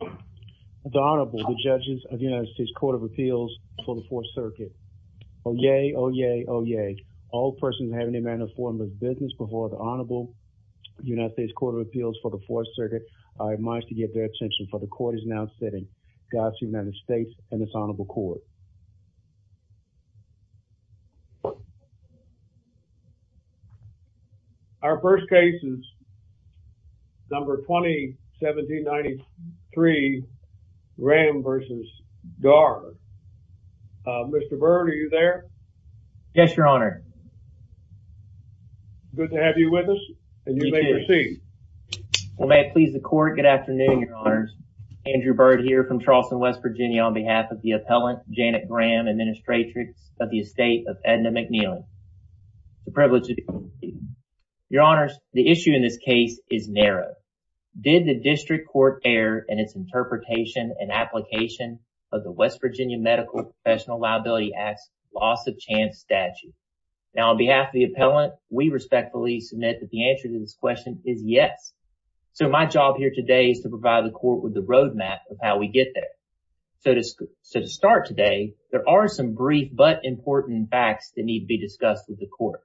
The Honorable, the judges of the United States Court of Appeals for the Fourth Circuit. Oh yay, oh yay, oh yay. All persons who have any manner of form of business before the Honorable United States Court of Appeals for the Fourth Circuit are admonished to get their attention for the court is now sitting. God speed the United States and this Honorable Court. Our first case is number 20-1793 Graham v. Dhar. Mr. Byrd, are you there? Yes, Your Honor. Good to have you with us and you may proceed. Well, may it please the court. Good afternoon, Andrew Byrd here from Charleston, West Virginia, on behalf of the appellant, Janet Graham, Administrator of the Estate of Edna McNeely. The privilege is yours, Your Honor. The issue in this case is narrow. Did the district court err in its interpretation and application of the West Virginia Medical Professional Liability Act's loss of chance statute? Now, on behalf of the appellant, we respectfully submit that the answer to this question is yes. So, my job here today is to provide the court with the roadmap of how we get there. So, to start today, there are some brief but important facts that need to be discussed with the court.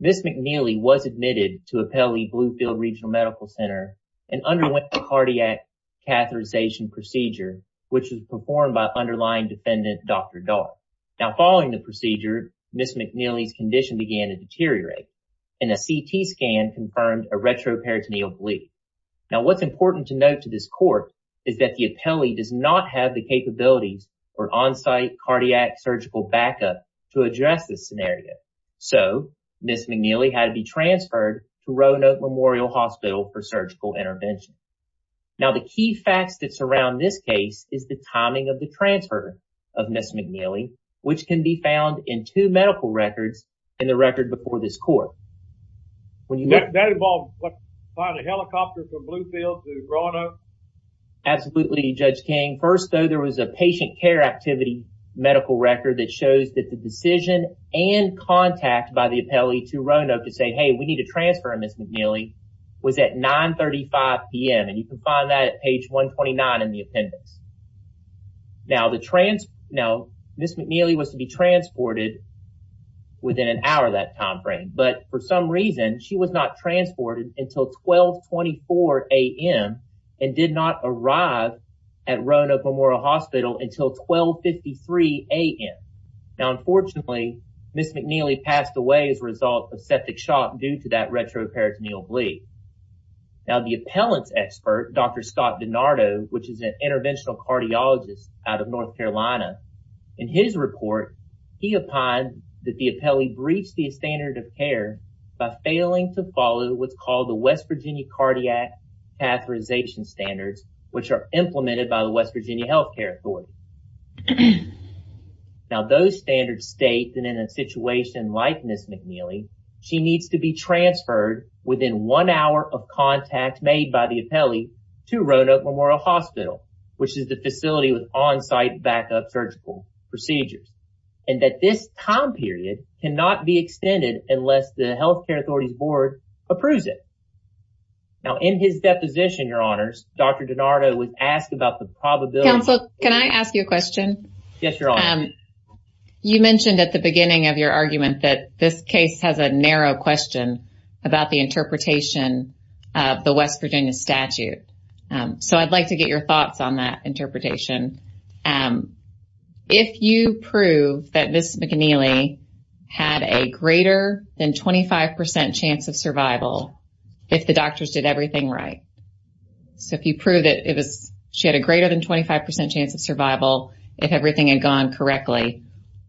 Ms. McNeely was admitted to Appellee Bluefield Regional Medical Center and underwent a cardiac catheterization procedure, which was performed by underlying defendant, Dr. Dhar. Now, following the procedure, Ms. McNeely's condition began to deteriorate and a CT scan confirmed a retroperitoneal bleed. Now, what's important to note to this court is that the appellee does not have the capabilities for on-site cardiac surgical backup to address this scenario. So, Ms. McNeely had to be transferred to Roanoke Memorial Hospital for surgical intervention. Now, the key facts that surround this case is the timing of the transfer of Ms. McNeely, which can be found in two medical records in the record before this court. That involved flying a helicopter from Bluefield to Roanoke? Absolutely, Judge King. First, though, there was a patient care activity medical record that shows that the decision and contact by the appellee to Roanoke to say, hey, we need to transfer Ms. McNeely was at 9.35 p.m., and you can find that at page 129 in the appendix. Now, Ms. McNeely was to be transported within an hour of that time frame, but for some reason, she was not transported until 12.24 a.m. and did not arrive at Roanoke Memorial Hospital until 12.53 a.m. Now, unfortunately, Ms. McNeely passed away as a result of septic shock due to that retroperitoneal bleed. Now, the appellant's expert, Dr. Scott DiNardo, which is an interventional cardiologist out of he opined that the appellee breached the standard of care by failing to follow what's called the West Virginia Cardiac Catheterization Standards, which are implemented by the West Virginia Health Care Authority. Now, those standards state that in a situation like Ms. McNeely, she needs to be transferred within one hour of contact made by the appellee to Roanoke Memorial Hospital, which is the facility with on-site backup surgical procedures, and that this time period cannot be extended unless the health care authority's board approves it. Now, in his deposition, your honors, Dr. DiNardo was asked about the probability... Counsel, can I ask you a question? Yes, your honor. You mentioned at the beginning of your argument that this case has a narrow question about the interpretation. If you prove that Ms. McNeely had a greater than 25% chance of survival, if the doctors did everything right, so if you prove that she had a greater than 25% chance of survival, if everything had gone correctly,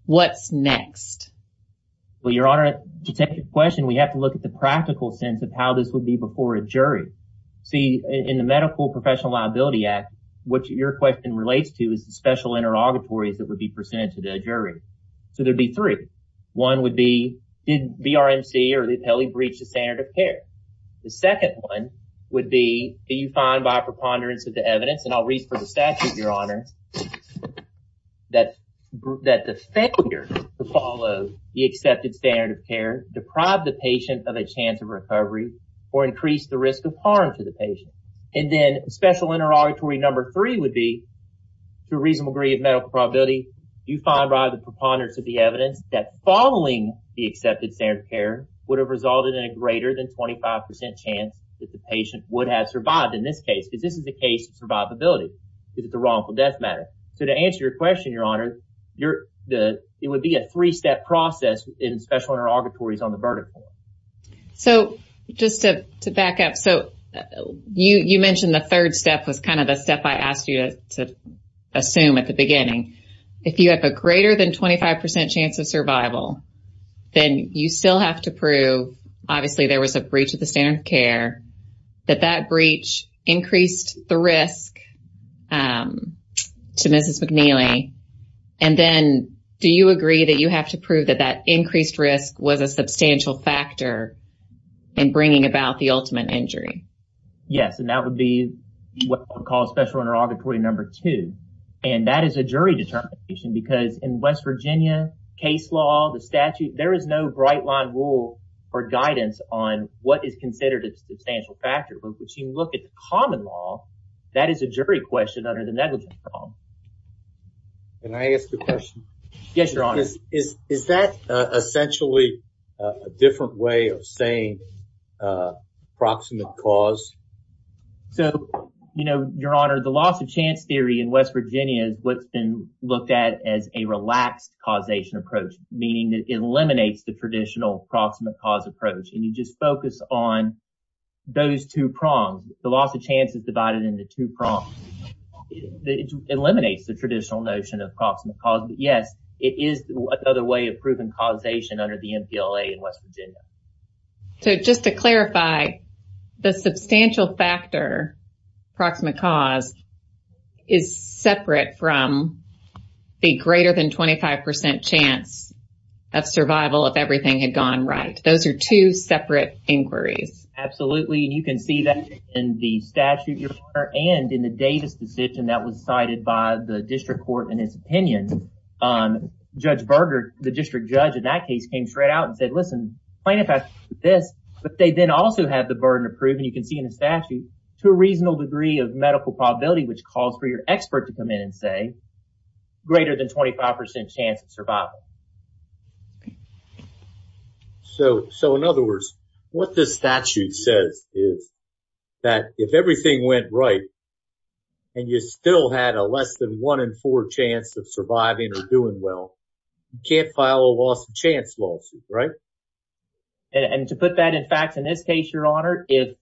what's next? Well, your honor, to take your question, we have to look at the practical sense of how this would be before a jury. See, in the Medical Professional Liability Act, what your question relates to is the special interrogatories that would be presented to the jury. So there'd be three. One would be, did VRMC or the appellee breach the standard of care? The second one would be, do you find by preponderance of the evidence, and I'll read for the statute, your honor, that the failure to follow the accepted standard of care deprived the patient of a chance of survival, or increased the risk of harm to the patient? And then special interrogatory number three would be, to a reasonable degree of medical probability, do you find by the preponderance of the evidence that following the accepted standard of care would have resulted in a greater than 25% chance that the patient would have survived in this case? Because this is a case of survivability, because it's a wrongful death matter. So to answer your question, your honor, it would be a three-step process in special interrogatories on the verdict. So just to back up, so you mentioned the third step was kind of the step I asked you to assume at the beginning. If you have a greater than 25% chance of survival, then you still have to prove, obviously there was a breach of the standard of care, that that breach increased the risk to Mrs. McNeely. And then do you agree that you have to prove that that increased risk was a substantial factor in bringing about the ultimate injury? Yes, and that would be what we call special interrogatory number two. And that is a jury determination, because in West Virginia case law, the statute, there is no bright line rule or guidance on what is considered a substantial factor. But if you look at the common law, that is a jury question under the negligence law. Can I ask a question? Yes, your honor. Is that essentially a different way of saying proximate cause? So, you know, your honor, the loss of chance theory in West Virginia is what's been looked at as a relaxed causation approach, meaning that it eliminates the traditional proximate cause approach. And you just focus on those two prongs. The loss of chance is divided into two prongs. It eliminates the traditional notion of proximate cause. But yes, it is another way of proving causation under the MPLA in West Virginia. So just to clarify, the substantial factor, proximate cause, is separate from the greater than 25% chance of survival if everything had gone right. Those are two separate inquiries. Absolutely. And you can see that in the statute, your honor, and in the Davis decision that was cited by the district court in his opinion. Judge Berger, the district judge in that case, came straight out and said, listen, plaintiff has this, but they then also have the burden of proving, you can see in the statute, to a reasonable degree of medical probability, which calls for your expert to come in and say greater than 25% chance of survival. Okay. So in other words, what this statute says is that if everything went right and you still had a less than one in four chance of surviving or doing well, you can't file a loss of chance lawsuit, right? And to put that in fact, in this case, your honor, if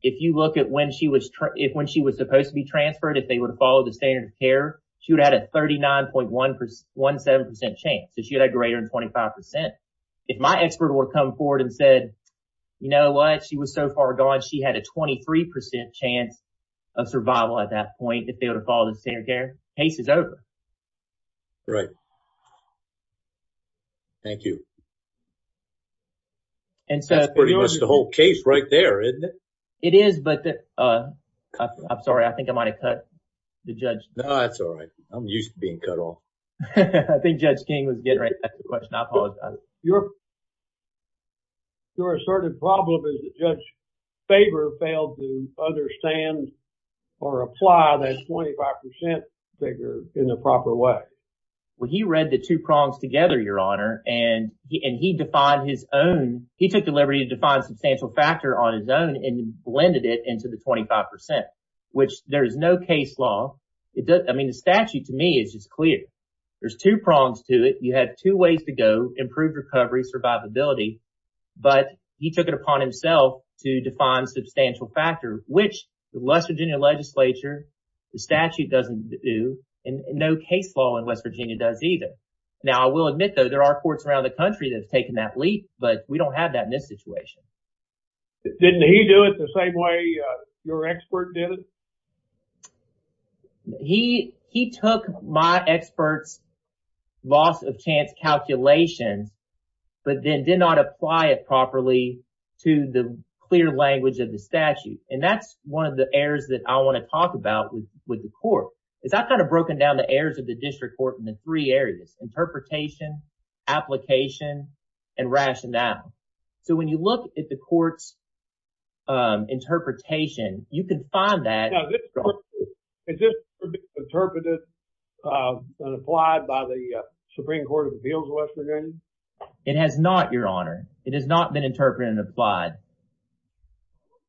you look at when she was supposed to be transferred, if they would have followed the standard of care, she would have had 39.17% chance. So she had a greater than 25%. If my expert would have come forward and said, you know what? She was so far gone. She had a 23% chance of survival at that point, if they would have followed the standard of care. Case is over. Right. Thank you. And so- That's pretty much the whole case right there, isn't it? It is, but I'm sorry. I think I cut the judge. No, that's all right. I'm used to being cut off. I think Judge King was getting right back to the question. I apologize. Your asserted problem is that Judge Faber failed to understand or apply that 25% figure in the proper way. Well, he read the two prongs together, your honor, and he defined his own. He took the case law. I mean, the statute, to me, is just clear. There's two prongs to it. You have two ways to go, improved recovery, survivability, but he took it upon himself to define substantial factors, which the West Virginia legislature, the statute doesn't do, and no case law in West Virginia does either. Now, I will admit, though, there are courts around the country that have taken that leap, but we don't have that in this situation. Didn't he do it the same way your expert did it? He took my expert's loss of chance calculations, but then did not apply it properly to the clear language of the statute, and that's one of the errors that I want to talk about with the court, is I've kind of broken down the errors of the district court into three areas, interpretation, application, and rationale. So, when you look at the court's interpretation, you can find that. Now, this court, is this court interpreted and applied by the Supreme Court of Appeals of West Virginia? It has not, your honor. It has not been interpreted and applied.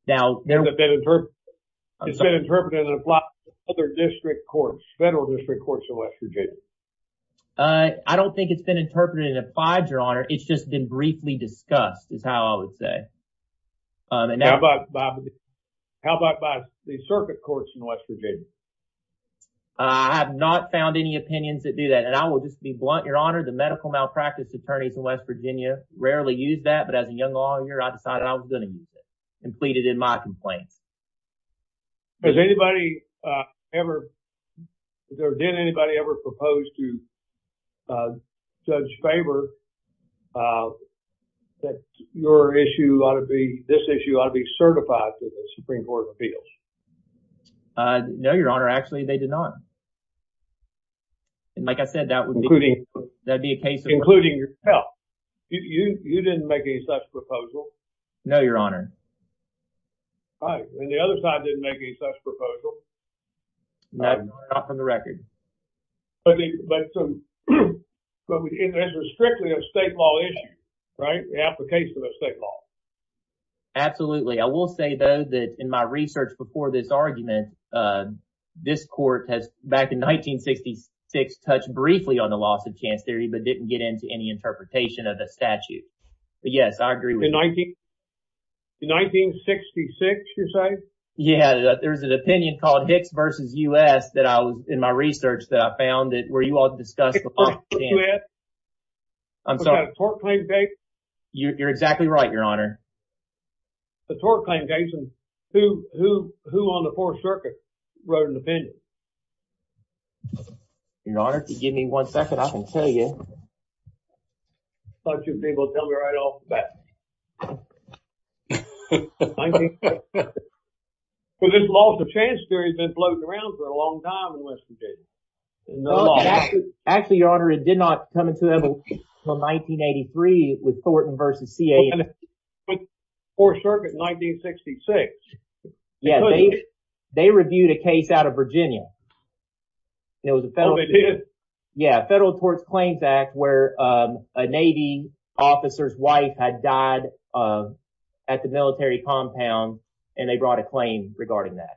It's been interpreted and applied to other district courts, federal district courts in West Virginia. I don't think it's been interpreted and applied, your honor. It's just been briefly discussed, is how I would say. How about by the circuit courts in West Virginia? I have not found any opinions that do that, and I will just be blunt, your honor. The medical malpractice attorneys in West Virginia rarely use that, but as a young lawyer, I decided I was going to use it, and pleaded in my complaints. Has anybody ever, or did anybody ever propose to judge Faber that your issue ought to be, this issue ought to be certified to the Supreme Court of Appeals? No, your honor. Actually, they did not. Like I said, that would be a case of... Including yourself. You didn't make any proposal. No, your honor. All right, and the other side didn't make any such proposal. No, not from the record. But it was strictly a state law issue, right? The application of state law. Absolutely. I will say, though, that in my research before this argument, this court has, back in 1966, touched briefly on the loss of chance theory, but didn't get into any 19... In 1966, you say? Yeah, there's an opinion called Hicks versus U.S. that I was, in my research, that I found that where you all discussed... I'm sorry. Was that a tort claim case? You're exactly right, your honor. A tort claim case, and who on the Fourth Circuit wrote an opinion? Your honor, if you give me one second, I can tell you. I thought you'd be able to tell me right off the bat. Well, this loss of chance theory has been floating around for a long time in West Virginia. Actually, your honor, it did not come into them until 1983 with Thornton versus CAA. Fourth Circuit in 1966. Yeah, they reviewed a case out of Virginia. Oh, they did? Yeah, Federal Courts Claims Act, where a Navy officer's wife had died at the military compound, and they brought a claim regarding that.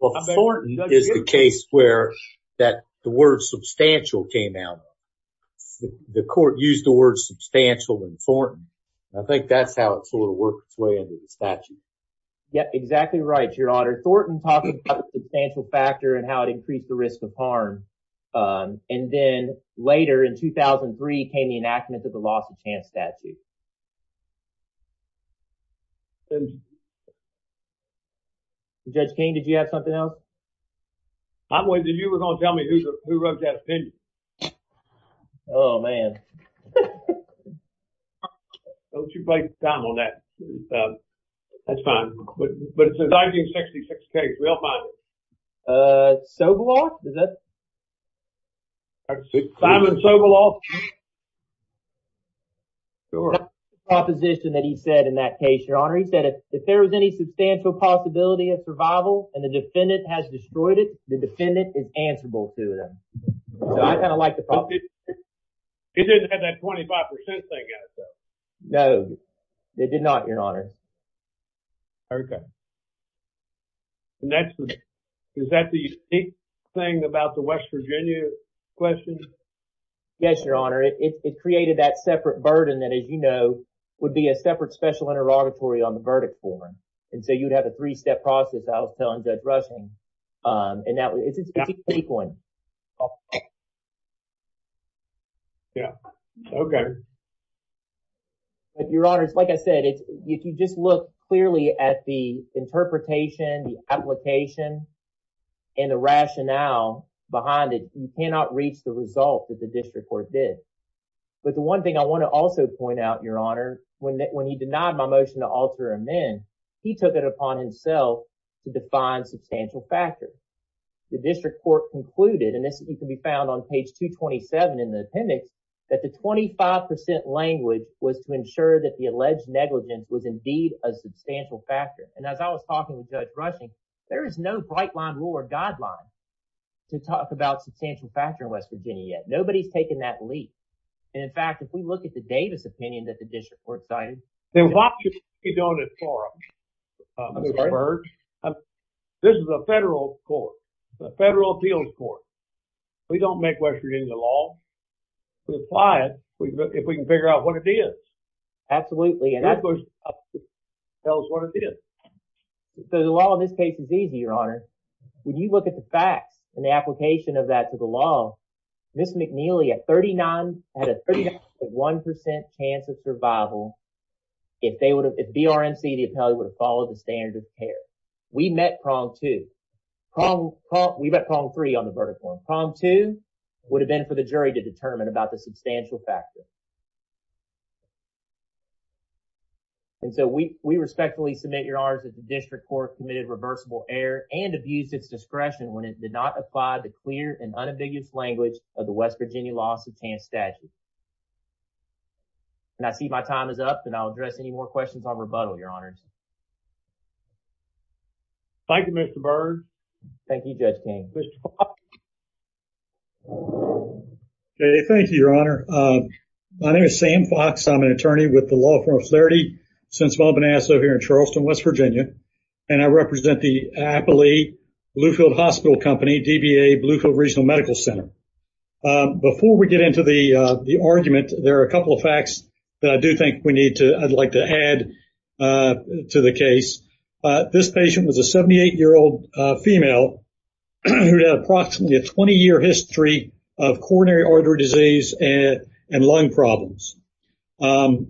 Well, Thornton is the case where the word substantial came out. The court used the word substantial in Thornton. I think that's how it sort of worked its way into the statute. Yeah, exactly right, your honor. Thornton talked about the substantial factor and how it increased the risk of harm. And then later, in 2003, came the enactment of the loss of chance statute. Judge King, did you have something else? I'm waiting. You were going to tell me who wrote that opinion. Oh, man. Don't you waste time on that. That's fine. But it's a 1966 case. We all find it. Soboloff? Simon Soboloff? Sure. Proposition that he said in that case, your honor. He said, if there is any substantial possibility of survival and the defendant has destroyed it, the defendant is answerable to them. So, I kind of like the proposition. It didn't have that 25% thing in it, though. No, it did not, your honor. Okay. Is that the unique thing about the West Virginia question? Yes, your honor. It created that separate burden that, as you know, would be a separate special interrogatory on the verdict form. And so, you'd have a three-step process, I was telling Judge Russel, and that was a unique one. Yeah. Okay. Your honors, like I said, if you just look clearly at the interpretation, the application, and the rationale behind it, you cannot reach the result that the district court did. But the one thing I want to also point out, your honor, when he denied my motion to alter amend, he took it upon himself to define substantial factors. The district court concluded, and this can be found on page 227 in the appendix, that the 25% language was to ensure that the alleged negligence was indeed a substantial factor. And as I was talking with Judge Russel, there is no bright-line rule or guideline to talk about substantial factor in West Virginia yet. Nobody's taken that leap. And in fact, if we look at the Davis opinion that the district court cited- Then why should we be doing this for them? I'm sorry? This is a federal court. It's a federal appeals court. We don't make West Virginia law. We apply it if we can figure out what it is. Absolutely. And that tells us what it is. So, the law in this case is easy, your honor. When you look at the facts and the application of that to the law, Ms. McNeely had a 39.1% chance of survival if BRMC, the appellee, would have followed the standard of care. We met prong two. We met prong three on the verdict one. Prong two would have been for the jury to determine about the substantial factor. And so, we respectfully submit, your honors, that the district court committed reversible error and abused its discretion when it did not apply the clear and unambiguous language of the West Virginia law substantive statute. And I see my time is up, and I'll address any more questions on rebuttal, your honors. Thank you, Mr. Byrd. Thank you, Judge King. Mr. Fox. Okay, thank you, your honor. My name is Sam Fox. I'm an attorney with the law firm of Clarity since Wabanaso here in Charleston, West Virginia. And I represent the Appellee Bluefield Hospital Company, DBA, Bluefield Regional Medical Center. Before we get into the argument, there are a couple of facts that I do think we need to, I'd like to add to the case. This patient was a 78-year-old female who had approximately a 20-year history of coronary artery disease and lung problems.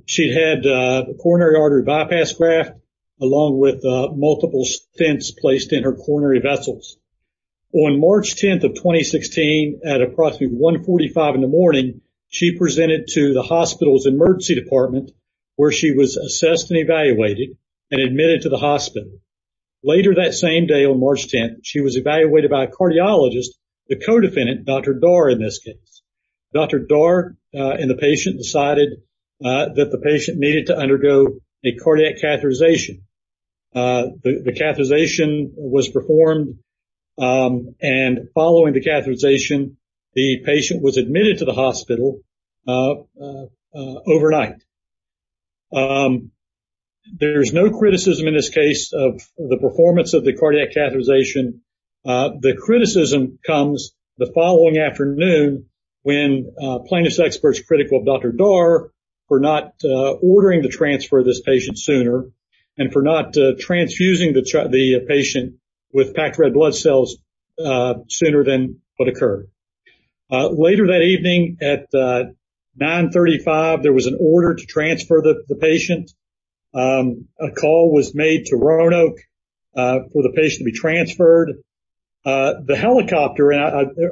She had a coronary artery bypass graft along with multiple stents placed in her coronary vessels. On March 10th of 2016, at approximately 145 in the morning, she presented to the hospital's emergency department where she was assessed and evaluated and admitted to the hospital. Later that same day on March 10th, she was evaluated by a cardiologist, the co-defendant, Dr. Dar, in this case. Dr. Dar and the patient decided that the patient needed to undergo a cardiac catheterization. The catheterization was performed and following the catheterization, the patient was admitted to the hospital overnight. There's no criticism in this case of the performance of the cardiac catheterization. The criticism comes the following afternoon when plaintiff's experts critical of Dr. Dar for not ordering the transfer of this patient sooner and for not transfusing the patient with packed red blood cells sooner than what occurred. Later that evening at 935, there was order to transfer the patient. A call was made to Roanoke for the patient to be transferred. The helicopter,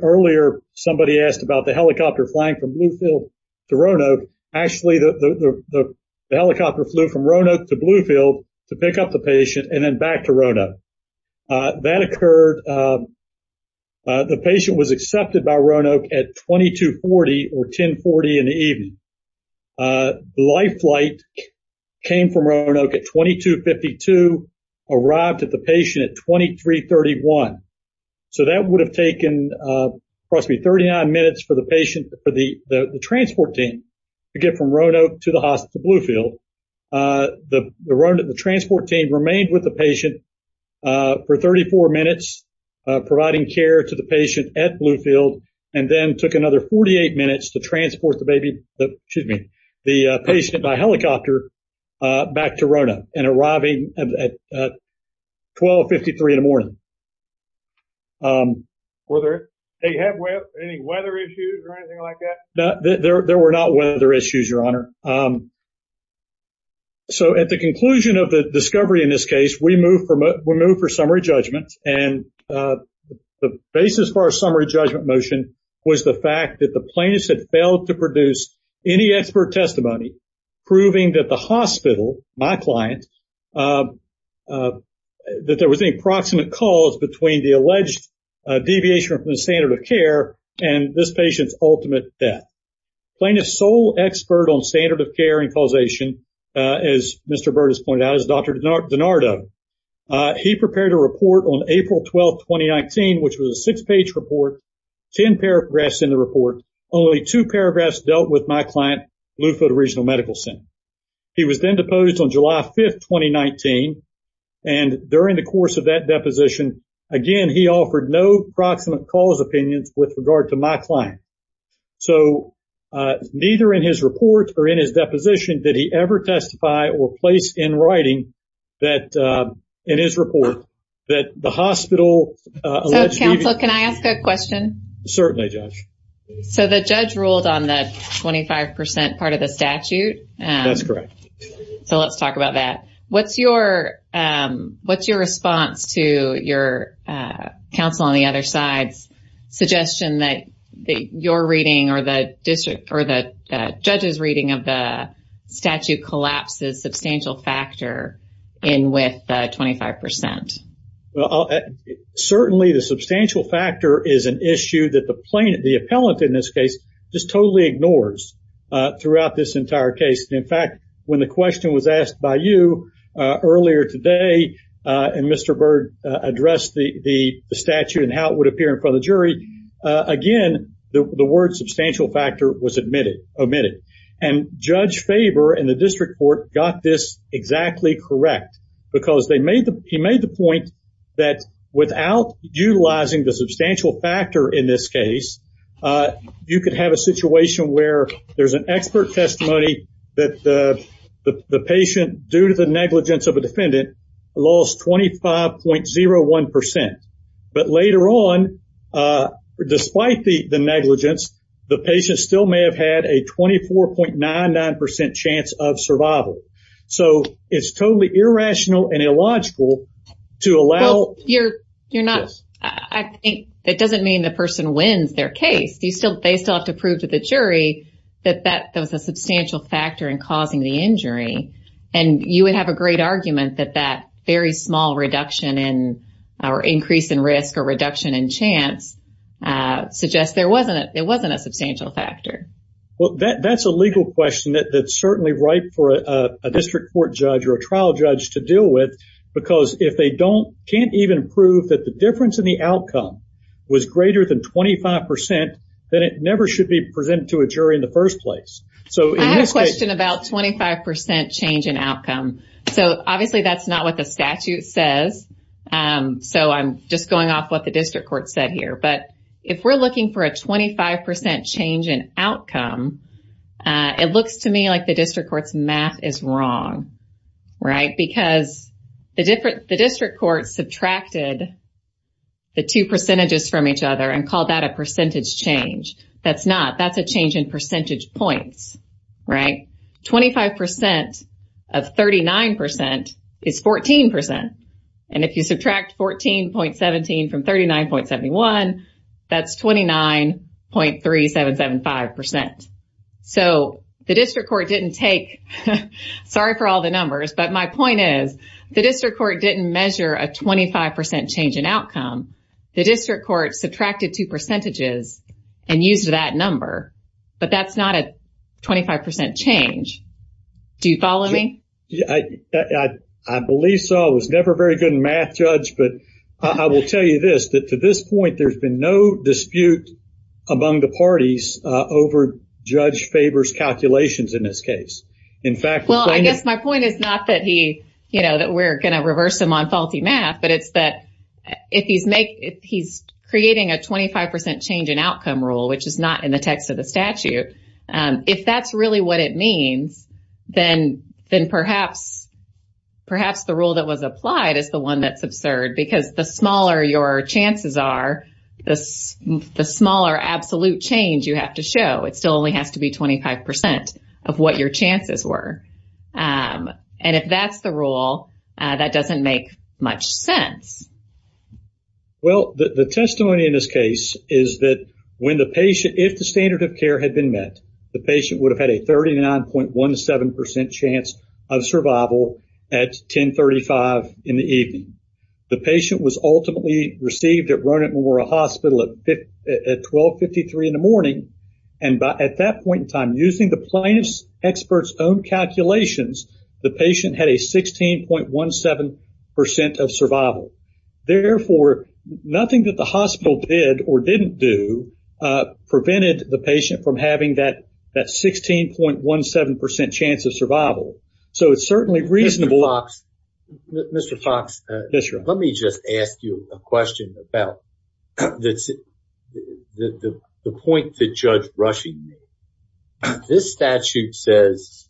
earlier somebody asked about the helicopter flying from Bluefield to Roanoke. Actually, the helicopter flew from Roanoke to Bluefield to pick up the patient and then back to Roanoke. That occurred, the patient was accepted by Roanoke at 2240 or 1040 in the evening. Life flight came from Roanoke at 2252, arrived at the patient at 2331. So that would have taken, trust me, 39 minutes for the patient for the transport team to get from Roanoke to the hospital to Bluefield. The transport team remained with the patient for 34 minutes providing care to the patient at Bluefield and then took another 48 minutes to transport the patient by helicopter back to Roanoke and arriving at 1253 in the morning. Were there any weather issues or anything like that? No, there were not weather issues, Your Honor. So at the conclusion of the discovery in this case, we moved for summary judgment and the basis for our summary judgment motion was the fact that plaintiff had failed to produce any expert testimony proving that the hospital, my client, that there was any proximate cause between the alleged deviation from the standard of care and this patient's ultimate death. Plaintiff's sole expert on standard of care and causation, as Mr. Burt has pointed out, is Dr. DiNardo. He prepared a report on April 12, 2019, which was a six-page report, 10 paragraphs in the report. Only two paragraphs dealt with my client, Bluefield Regional Medical Center. He was then deposed on July 5, 2019. And during the course of that deposition, again, he offered no proximate cause opinions with regard to my client. So neither in his report or in his deposition did he ever testify or place in writing that in his report that the hospital... So, counsel, can I ask a question? Certainly, Judge. So the judge ruled on the 25% part of the statute? That's correct. So let's talk about that. What's your response to your counsel on the other side's suggestion that your reading or the district or the judge's reading of the collapses substantial factor in with 25%? Certainly, the substantial factor is an issue that the plaintiff, the appellant in this case, just totally ignores throughout this entire case. In fact, when the question was asked by you earlier today, and Mr. Burt addressed the statute and how it would appear in front of the jury, again, the word substantial factor was omitted. And Judge Faber in the district court got this exactly correct because he made the point that without utilizing the substantial factor in this case, you could have a situation where there's an expert testimony that the patient, due to despite the negligence, the patient still may have had a 24.99% chance of survival. So it's totally irrational and illogical to allow... You're not... I think it doesn't mean the person wins their case. They still have to prove to the jury that that was a substantial factor in causing the injury. And you would have a great argument that that very small reduction in or increase in risk or reduction in chance suggests it wasn't a substantial factor. Well, that's a legal question that's certainly ripe for a district court judge or a trial judge to deal with because if they can't even prove that the difference in the outcome was greater than 25%, then it never should be presented to a jury in the first place. So in this case... I have a question about 25% change in outcome. So obviously that's not what the statute says. So I'm just going off what the district court said here. But if we're looking for a 25% change in outcome, it looks to me like the district court's math is wrong, right? Because the district court subtracted the two percentages from each other and called that a percentage change. That's not. That's a change in percentage points, right? 25% of 39% is 14%. And if you subtract 14.17 from 39.71, that's 29.3775%. So the district court didn't take... Sorry for all the numbers. But my point is, the district court didn't measure a 25% change in outcome. The district court subtracted two Do you follow me? I believe so. I was never very good in math, Judge. But I will tell you this, that to this point, there's been no dispute among the parties over Judge Faber's calculations in this case. In fact... Well, I guess my point is not that we're going to reverse him on faulty math, but it's that if he's creating a 25% change in outcome rule, which is not in the text of the then perhaps the rule that was applied is the one that's absurd. Because the smaller your chances are, the smaller absolute change you have to show. It still only has to be 25% of what your chances were. And if that's the rule, that doesn't make much sense. Well, the testimony in this case is that if the standard of care had been met, the patient would have had a 39.17% chance of survival at 10.35 in the evening. The patient was ultimately received at Ronit Memorial Hospital at 12.53 in the morning. And at that point in time, using the plaintiff's expert's own calculations, the patient had a 16.17% of survival. Therefore, nothing that the hospital did or didn't do prevented the patient from having that that 16.17% chance of survival. So it's certainly reasonable... Mr. Fox, let me just ask you a question about the point that Judge Rushing made. This statute says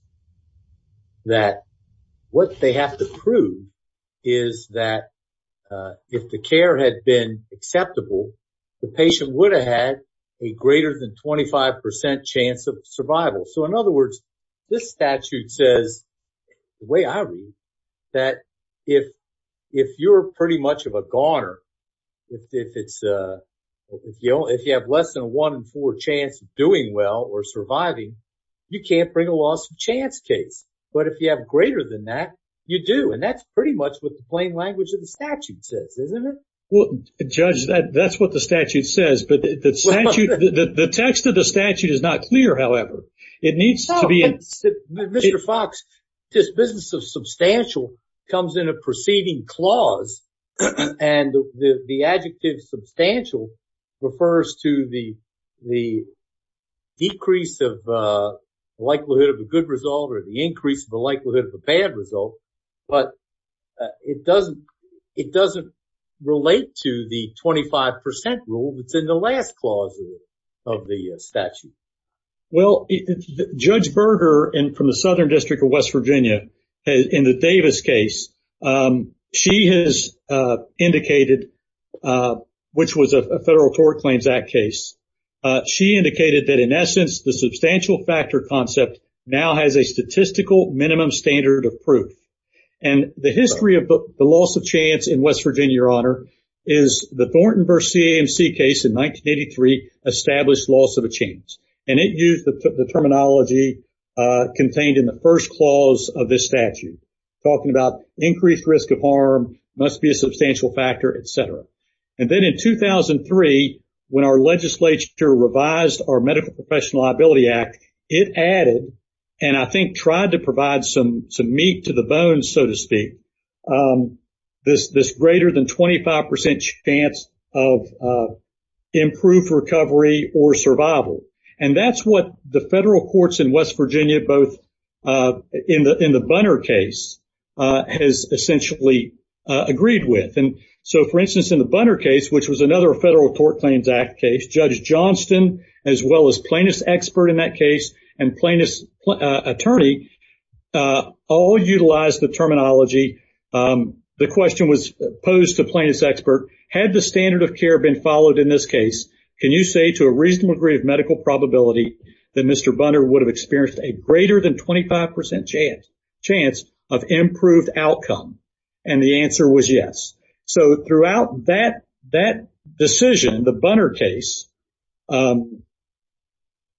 that what they have to prove is that if the care had been acceptable, the patient would have had a greater than 25% chance of survival. So in other words, this statute says, the way I read, that if you're pretty much of a goner, if you have less than a one in four chance of doing well or surviving, you can't bring a loss chance case. But if you have greater than that, you do. And that's pretty much what the plain language of the statute says, isn't it? Well, Judge, that's what the statute says. But the text of the statute is not clear, however. It needs to be... Mr. Fox, this business of substantial comes in a preceding clause. And the adjective substantial refers to the decrease of likelihood of a good result or the increase of the likelihood of a bad result. But it doesn't relate to the 25% rule that's in the last clause of the statute. Well, Judge Berger from the Southern District of West Virginia, in the Davis case, she has indicated, which was a Federal Tort Claims Act case, she indicated that, in essence, the substantial factor concept now has a statistical minimum standard of proof. And the history of the loss of chance in West Virginia, Your Honor, is the Thornton v. CAMC case in 1983 established loss of a chance. And it used the terminology contained in the first clause of this statute, talking about increased risk of harm, must be a substantial factor, etc. And then in 2003, when our legislature revised our Medical Professional Liability Act, it added, and I think tried to provide some meat to the bone, so to speak, this greater than 25% chance of improved recovery or survival. And that's what the Federal Bunner case has essentially agreed with. And so, for instance, in the Bunner case, which was another Federal Tort Claims Act case, Judge Johnston, as well as plaintiff's expert in that case, and plaintiff's attorney, all utilized the terminology. The question was posed to plaintiff's expert, had the standard of care been followed in this case, can you say to a reasonable degree of improved outcome? And the answer was yes. So throughout that decision, the Bunner case,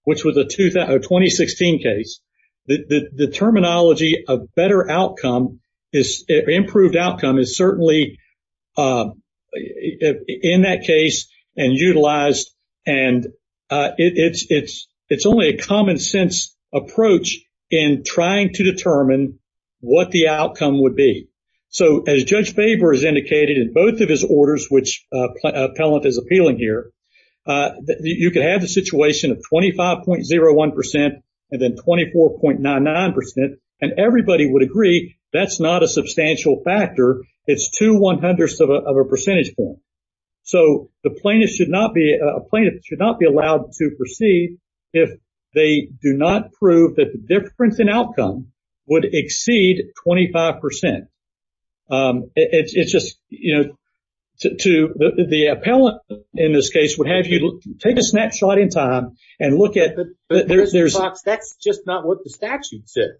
which was a 2016 case, the terminology of better outcome, improved outcome is certainly used in that case and utilized. And it's only a common sense approach in trying to determine what the outcome would be. So as Judge Faber has indicated in both of his orders, which appellant is appealing here, you could have the situation of 25.01% and then 24.99%, and everybody would agree that's not a substantial factor. It's 2.01% of a percentage point. So the plaintiff should not be allowed to proceed if they do not prove that the difference in outcome would exceed 25%. It's just, you know, the appellant in this case would have you take a snapshot in time and look at... That's just not what the statute says.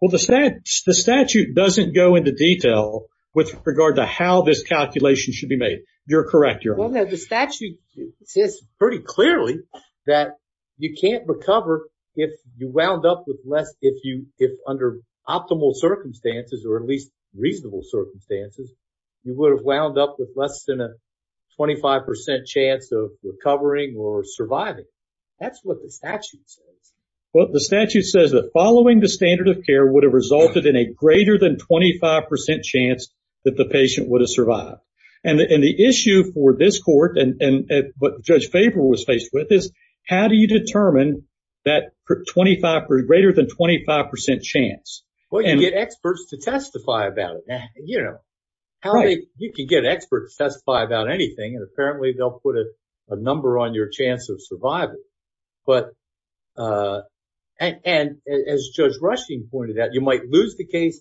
Well, the statute doesn't go into detail with regard to how this calculation should be made. You're correct, Your Honor. Well, no, the statute says pretty clearly that you can't recover if you wound up with less, if under optimal circumstances or at least reasonable circumstances, you would have wound up with less than a 25% chance of recovering or surviving. That's what the statute says. Well, the statute says that following the standard of care would have resulted in a greater than 25% chance that the patient would have survived. And the issue for this court and what Judge Faber was faced with is how do you determine that greater than 25% chance? Well, you get experts to testify about it. You know, you can get experts to testify about anything and apparently they'll put a number on your chance of survival. And as Judge Rushing pointed out, you might lose the case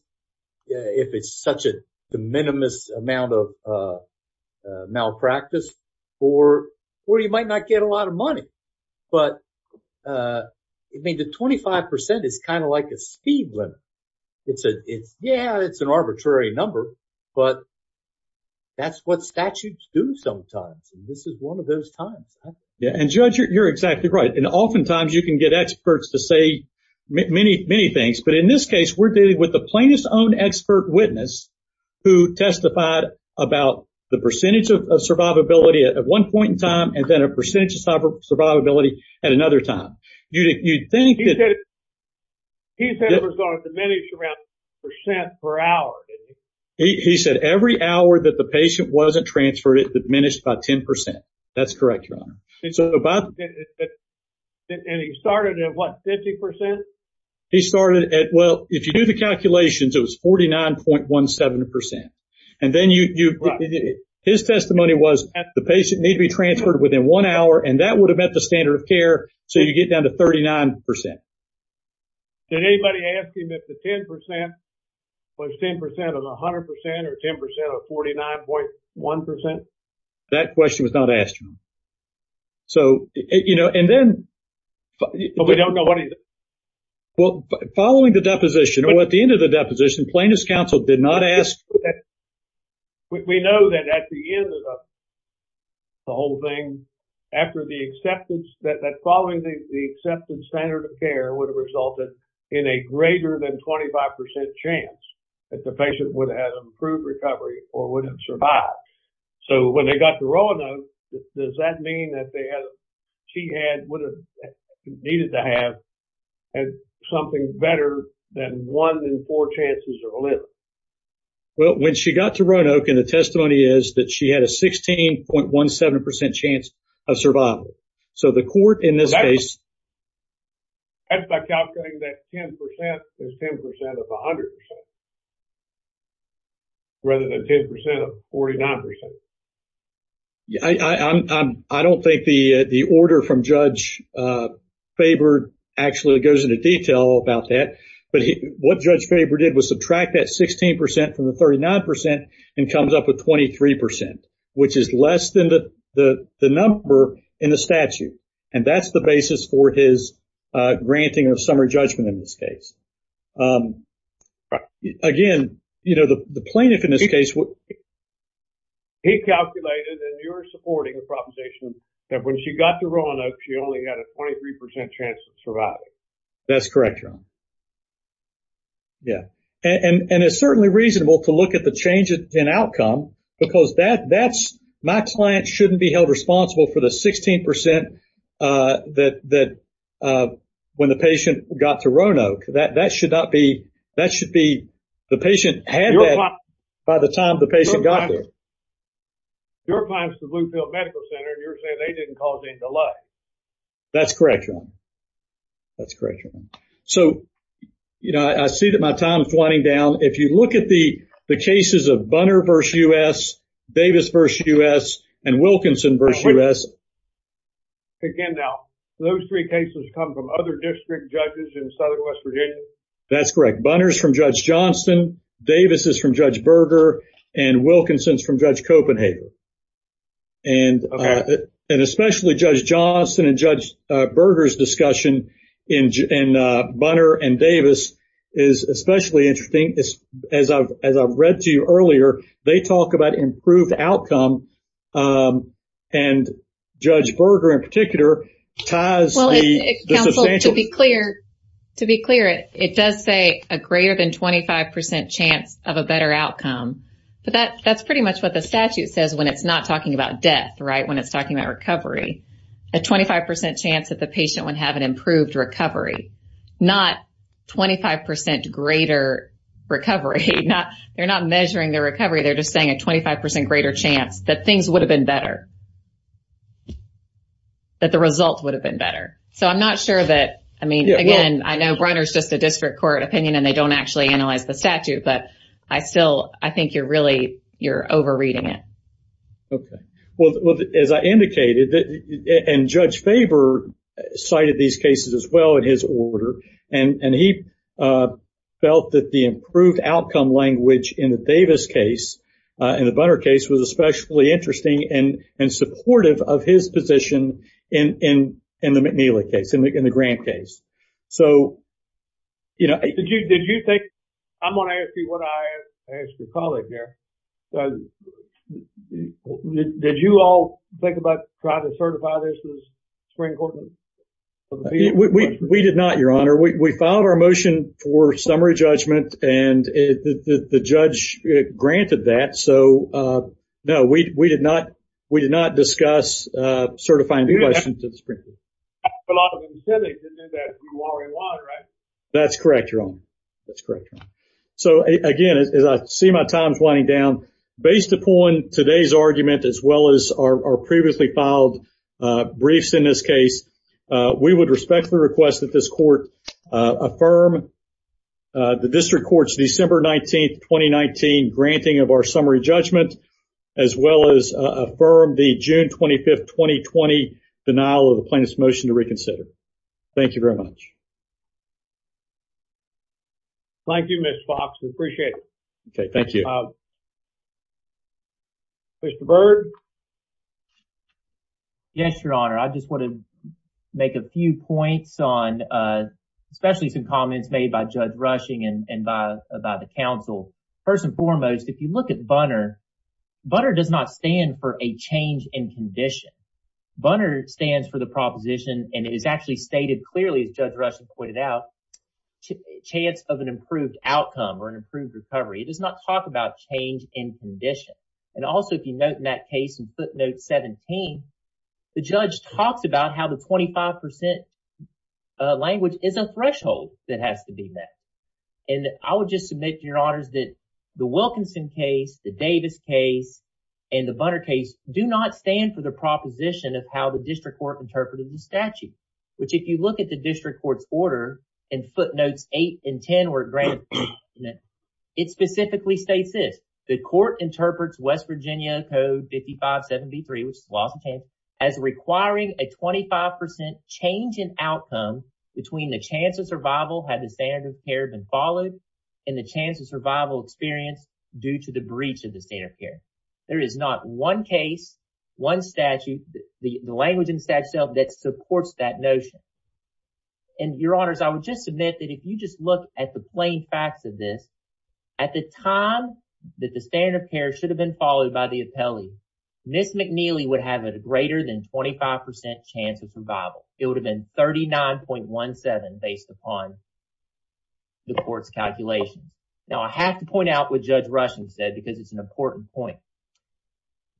if it's such a de minimis amount of malpractice or you might not get a lot of money. But, I mean, the 25% is kind of like a speed limit. It's, yeah, it's an arbitrary number, but that's what statutes do sometimes. And this is one of those times. Yeah. And Judge, you're exactly right. And oftentimes you can get experts to say many, many things. But in this case, we're dealing with the plaintiff's own expert witness who testified about the percentage of survivability at one point in time and then a percentage of survivability at another time. You'd think that... He said it was going to diminish around 10% per hour, didn't he? He said every hour that the patient wasn't transferred, it diminished by 10%. That's correct, Your Honor. And he started at what, 50%? He started at, well, if you do the calculations, it was 49.17%. And then his testimony was the patient need to be transferred within one hour and that would have met the standard of care. So you get down to 39%. Did anybody ask him if the 10% was 10% of 100% or 10% of 49.1%? That question was not asked. So, you know, and then... But we don't know what he... Well, following the deposition or at the end of the deposition, plaintiff's counsel did not ask... We know that at the end of the whole thing, after the acceptance, that following the accepted standard of care would have resulted in a greater than 25% chance that the patient would have improved recovery or would have survived. So when they got to Roanoke, does that mean that she would have needed to have something better than one in four chances of living? Well, when she got to Roanoke and the testimony is that she had a 16.17% chance of survival. So the court in this case... Rather than 10% of 49%. I don't think the order from Judge Faber actually goes into detail about that. But what Judge Faber did was subtract that 16% from the 39% and comes up with 23%, which is less than the number in the statute. And that's the basis for his granting of summary judgment in this case. Right. Again, the plaintiff in this case... He calculated and you're supporting the proposition that when she got to Roanoke, she only had a 23% chance of surviving. That's correct, John. Yeah. And it's certainly reasonable to look at the change in outcome because that's... My client shouldn't be held responsible for the 16% that when the patient got to Roanoke, that should not be... That should be... The patient had that by the time the patient got there. Your client is the Bluefield Medical Center. You're saying they didn't cause any delay. That's correct, John. That's correct, John. So, you know, I see that my time is running down. If you look at the cases of Bunner v. U.S., Davis v. U.S., and Wilkinson v. U.S. Again, now, those three cases come from other district judges in southwest Virginia? That's correct. Bunner's from Judge Johnston. Davis is from Judge Berger. And Wilkinson's from Judge Copenhagen. And especially Judge Johnston and Judge Berger's discussion in Bunner and Davis is especially interesting. As I've read to you earlier, they talk about improved outcome. And Judge Berger in particular ties the substantial... To be clear, it does say a greater than 25% chance of a better outcome. But that's pretty much what the statute says when it's not talking about death, right? When it's talking about recovery. A 25% chance that the patient would have an improved recovery. Not 25% greater recovery. They're not measuring their recovery. They're just saying a 25% greater chance that things would have been better. That the result would have been better. So I'm not sure that... I mean, again, I know Briner's just a district court opinion, and they don't actually analyze the statute. But I still... I think you're really... You're over-reading it. Okay. Well, as I indicated, and Judge Faber cited these cases as well in his order. And he felt that the improved outcome language in the Davis case, in the Bunner case, was especially interesting and supportive of his position in the McNeely case, in the Grant case. So, you know... Did you think... I'm going to ask you what I asked a colleague here. Did you all think about trying to certify this as Supreme Court? No, we did not, Your Honor. We filed our motion for summary judgment, and the judge granted that. So, no, we did not discuss certifying the question to the Supreme Court. That's correct, Your Honor. That's correct, Your Honor. So, again, as I see my times winding down, based upon today's argument, as well as our previously filed briefs in this case, we would respectfully request that this court affirm the district court's December 19, 2019, granting of our summary judgment, as well as affirm the June 25, 2020, denial of the plaintiff's motion to reconsider. Thank you very much. Thank you, Ms. Fox. We appreciate it. Okay. Thank you. Mr. Byrd? Yes, Your Honor. I just want to make a few points on, especially some comments made by Judge Rushing and by the counsel. First and foremost, if you look at Bunner, Bunner does not stand for a change in condition. Bunner stands for the proposition, and it is actually stated clearly, as Judge Rushing pointed out, chance of an improved outcome or an improved recovery. It does not talk about change in condition. Also, if you note in that case in footnote 17, the judge talks about how the 25% language is a threshold that has to be met. I would just submit, Your Honors, that the Wilkinson case, the Davis case, and the Bunner case do not stand for the proposition of how the footnotes 8 and 10 were granted. It specifically states this. The court interprets West Virginia Code 5573, which is the law of the land, as requiring a 25% change in outcome between the chance of survival had the standard of care been followed and the chance of survival experienced due to the breach of the standard of care. There is not one case, one statute, the language in the just look at the plain facts of this, at the time that the standard of care should have been followed by the appellee, Ms. McNeely would have a greater than 25% chance of survival. It would have been 39.17 based upon the court's calculation. Now, I have to point out what Judge Rushing said because it is an important point.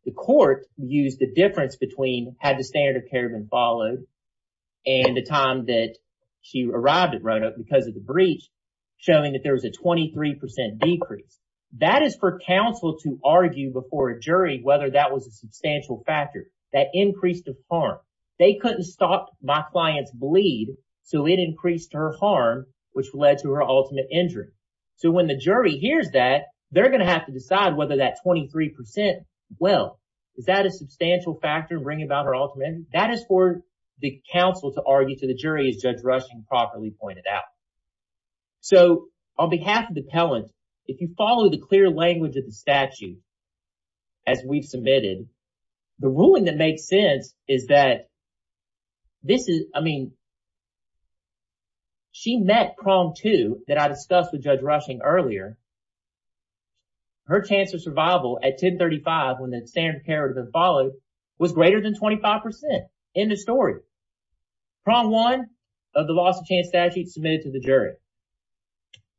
The court used the difference between had the standard of care been followed and the time that she arrived at Roanoke because of the breach showing that there was a 23% decrease. That is for counsel to argue before a jury whether that was a substantial factor. That increased the harm. They couldn't stop my client's bleed, so it increased her harm, which led to her ultimate injury. So when the jury hears that, they're going to have to decide whether that 23% will. Is that a substantial factor in bringing about her ultimate injury? That is for the counsel to argue to the jury, as Judge Rushing properly pointed out. So, on behalf of the appellant, if you follow the clear language of the statute as we've submitted, the ruling that makes sense is that this is, I mean, she met prong two that I discussed with Judge Rushing earlier. Her chance of survival at 1035 when the standard of care had been followed was greater than 25%. End of story. Prong one of the loss of chance statute submitted to the jury.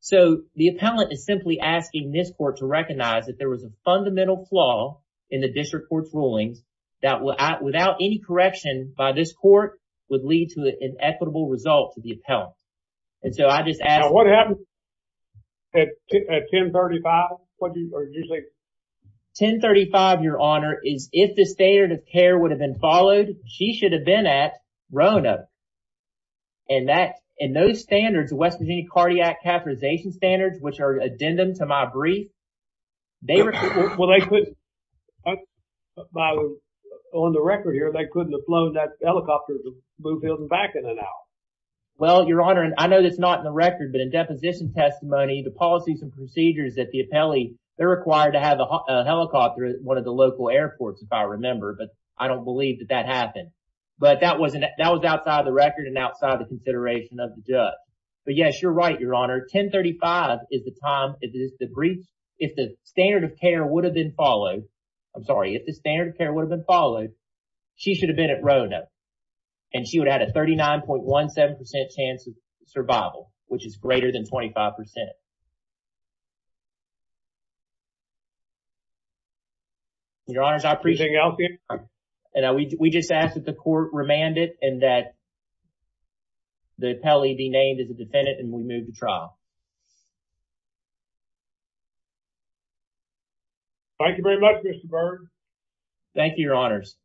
So, the appellant is simply asking this court to recognize that there was a fundamental flaw in the district court's rulings that without any correction by this court would lead to an equitable result to the appellant. And so, I just ask. Now, what happens at 1035? What do you say? 1035, your honor, is if the standard of care would have been followed, she should have been at Rona. And that, and those standards, the West Virginia cardiac catheterization standards, which are addendum to my brief, they were. Well, they could, on the record here, they couldn't have flown that helicopter back in and out. Well, your honor, and I know that's not in the record, but in deposition testimony, the policies and procedures that the appellee, they're required to have a helicopter at one of the local airports, if I remember, but I don't believe that that happened. But that wasn't, that was outside the record and outside the consideration of the judge. But yes, you're right, your honor. 1035 is the time. It is the brief. If the standard of care would have been followed, I'm sorry, if the standard of care would have been followed, she should have been at Rona. And she would have had a 39.17% chance of survival, which is greater than 25%. Your honors, I appreciate it. And we just ask that the court remand it and that the appellee be named as a defendant and we move to trial. Thank you very much, Mr. Byrne. Thank you, your honors.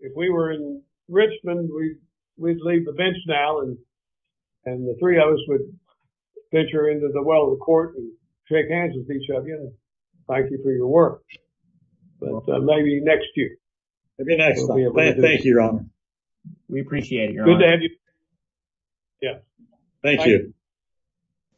If we were in Richmond, we would leave the bench now and the three of us would venture into the well of the court and shake hands with each of you and thank you for your work. But maybe next year. Maybe next time. Thank you, your honor. We appreciate it, your honor. Good to have you. Yeah. Thank you.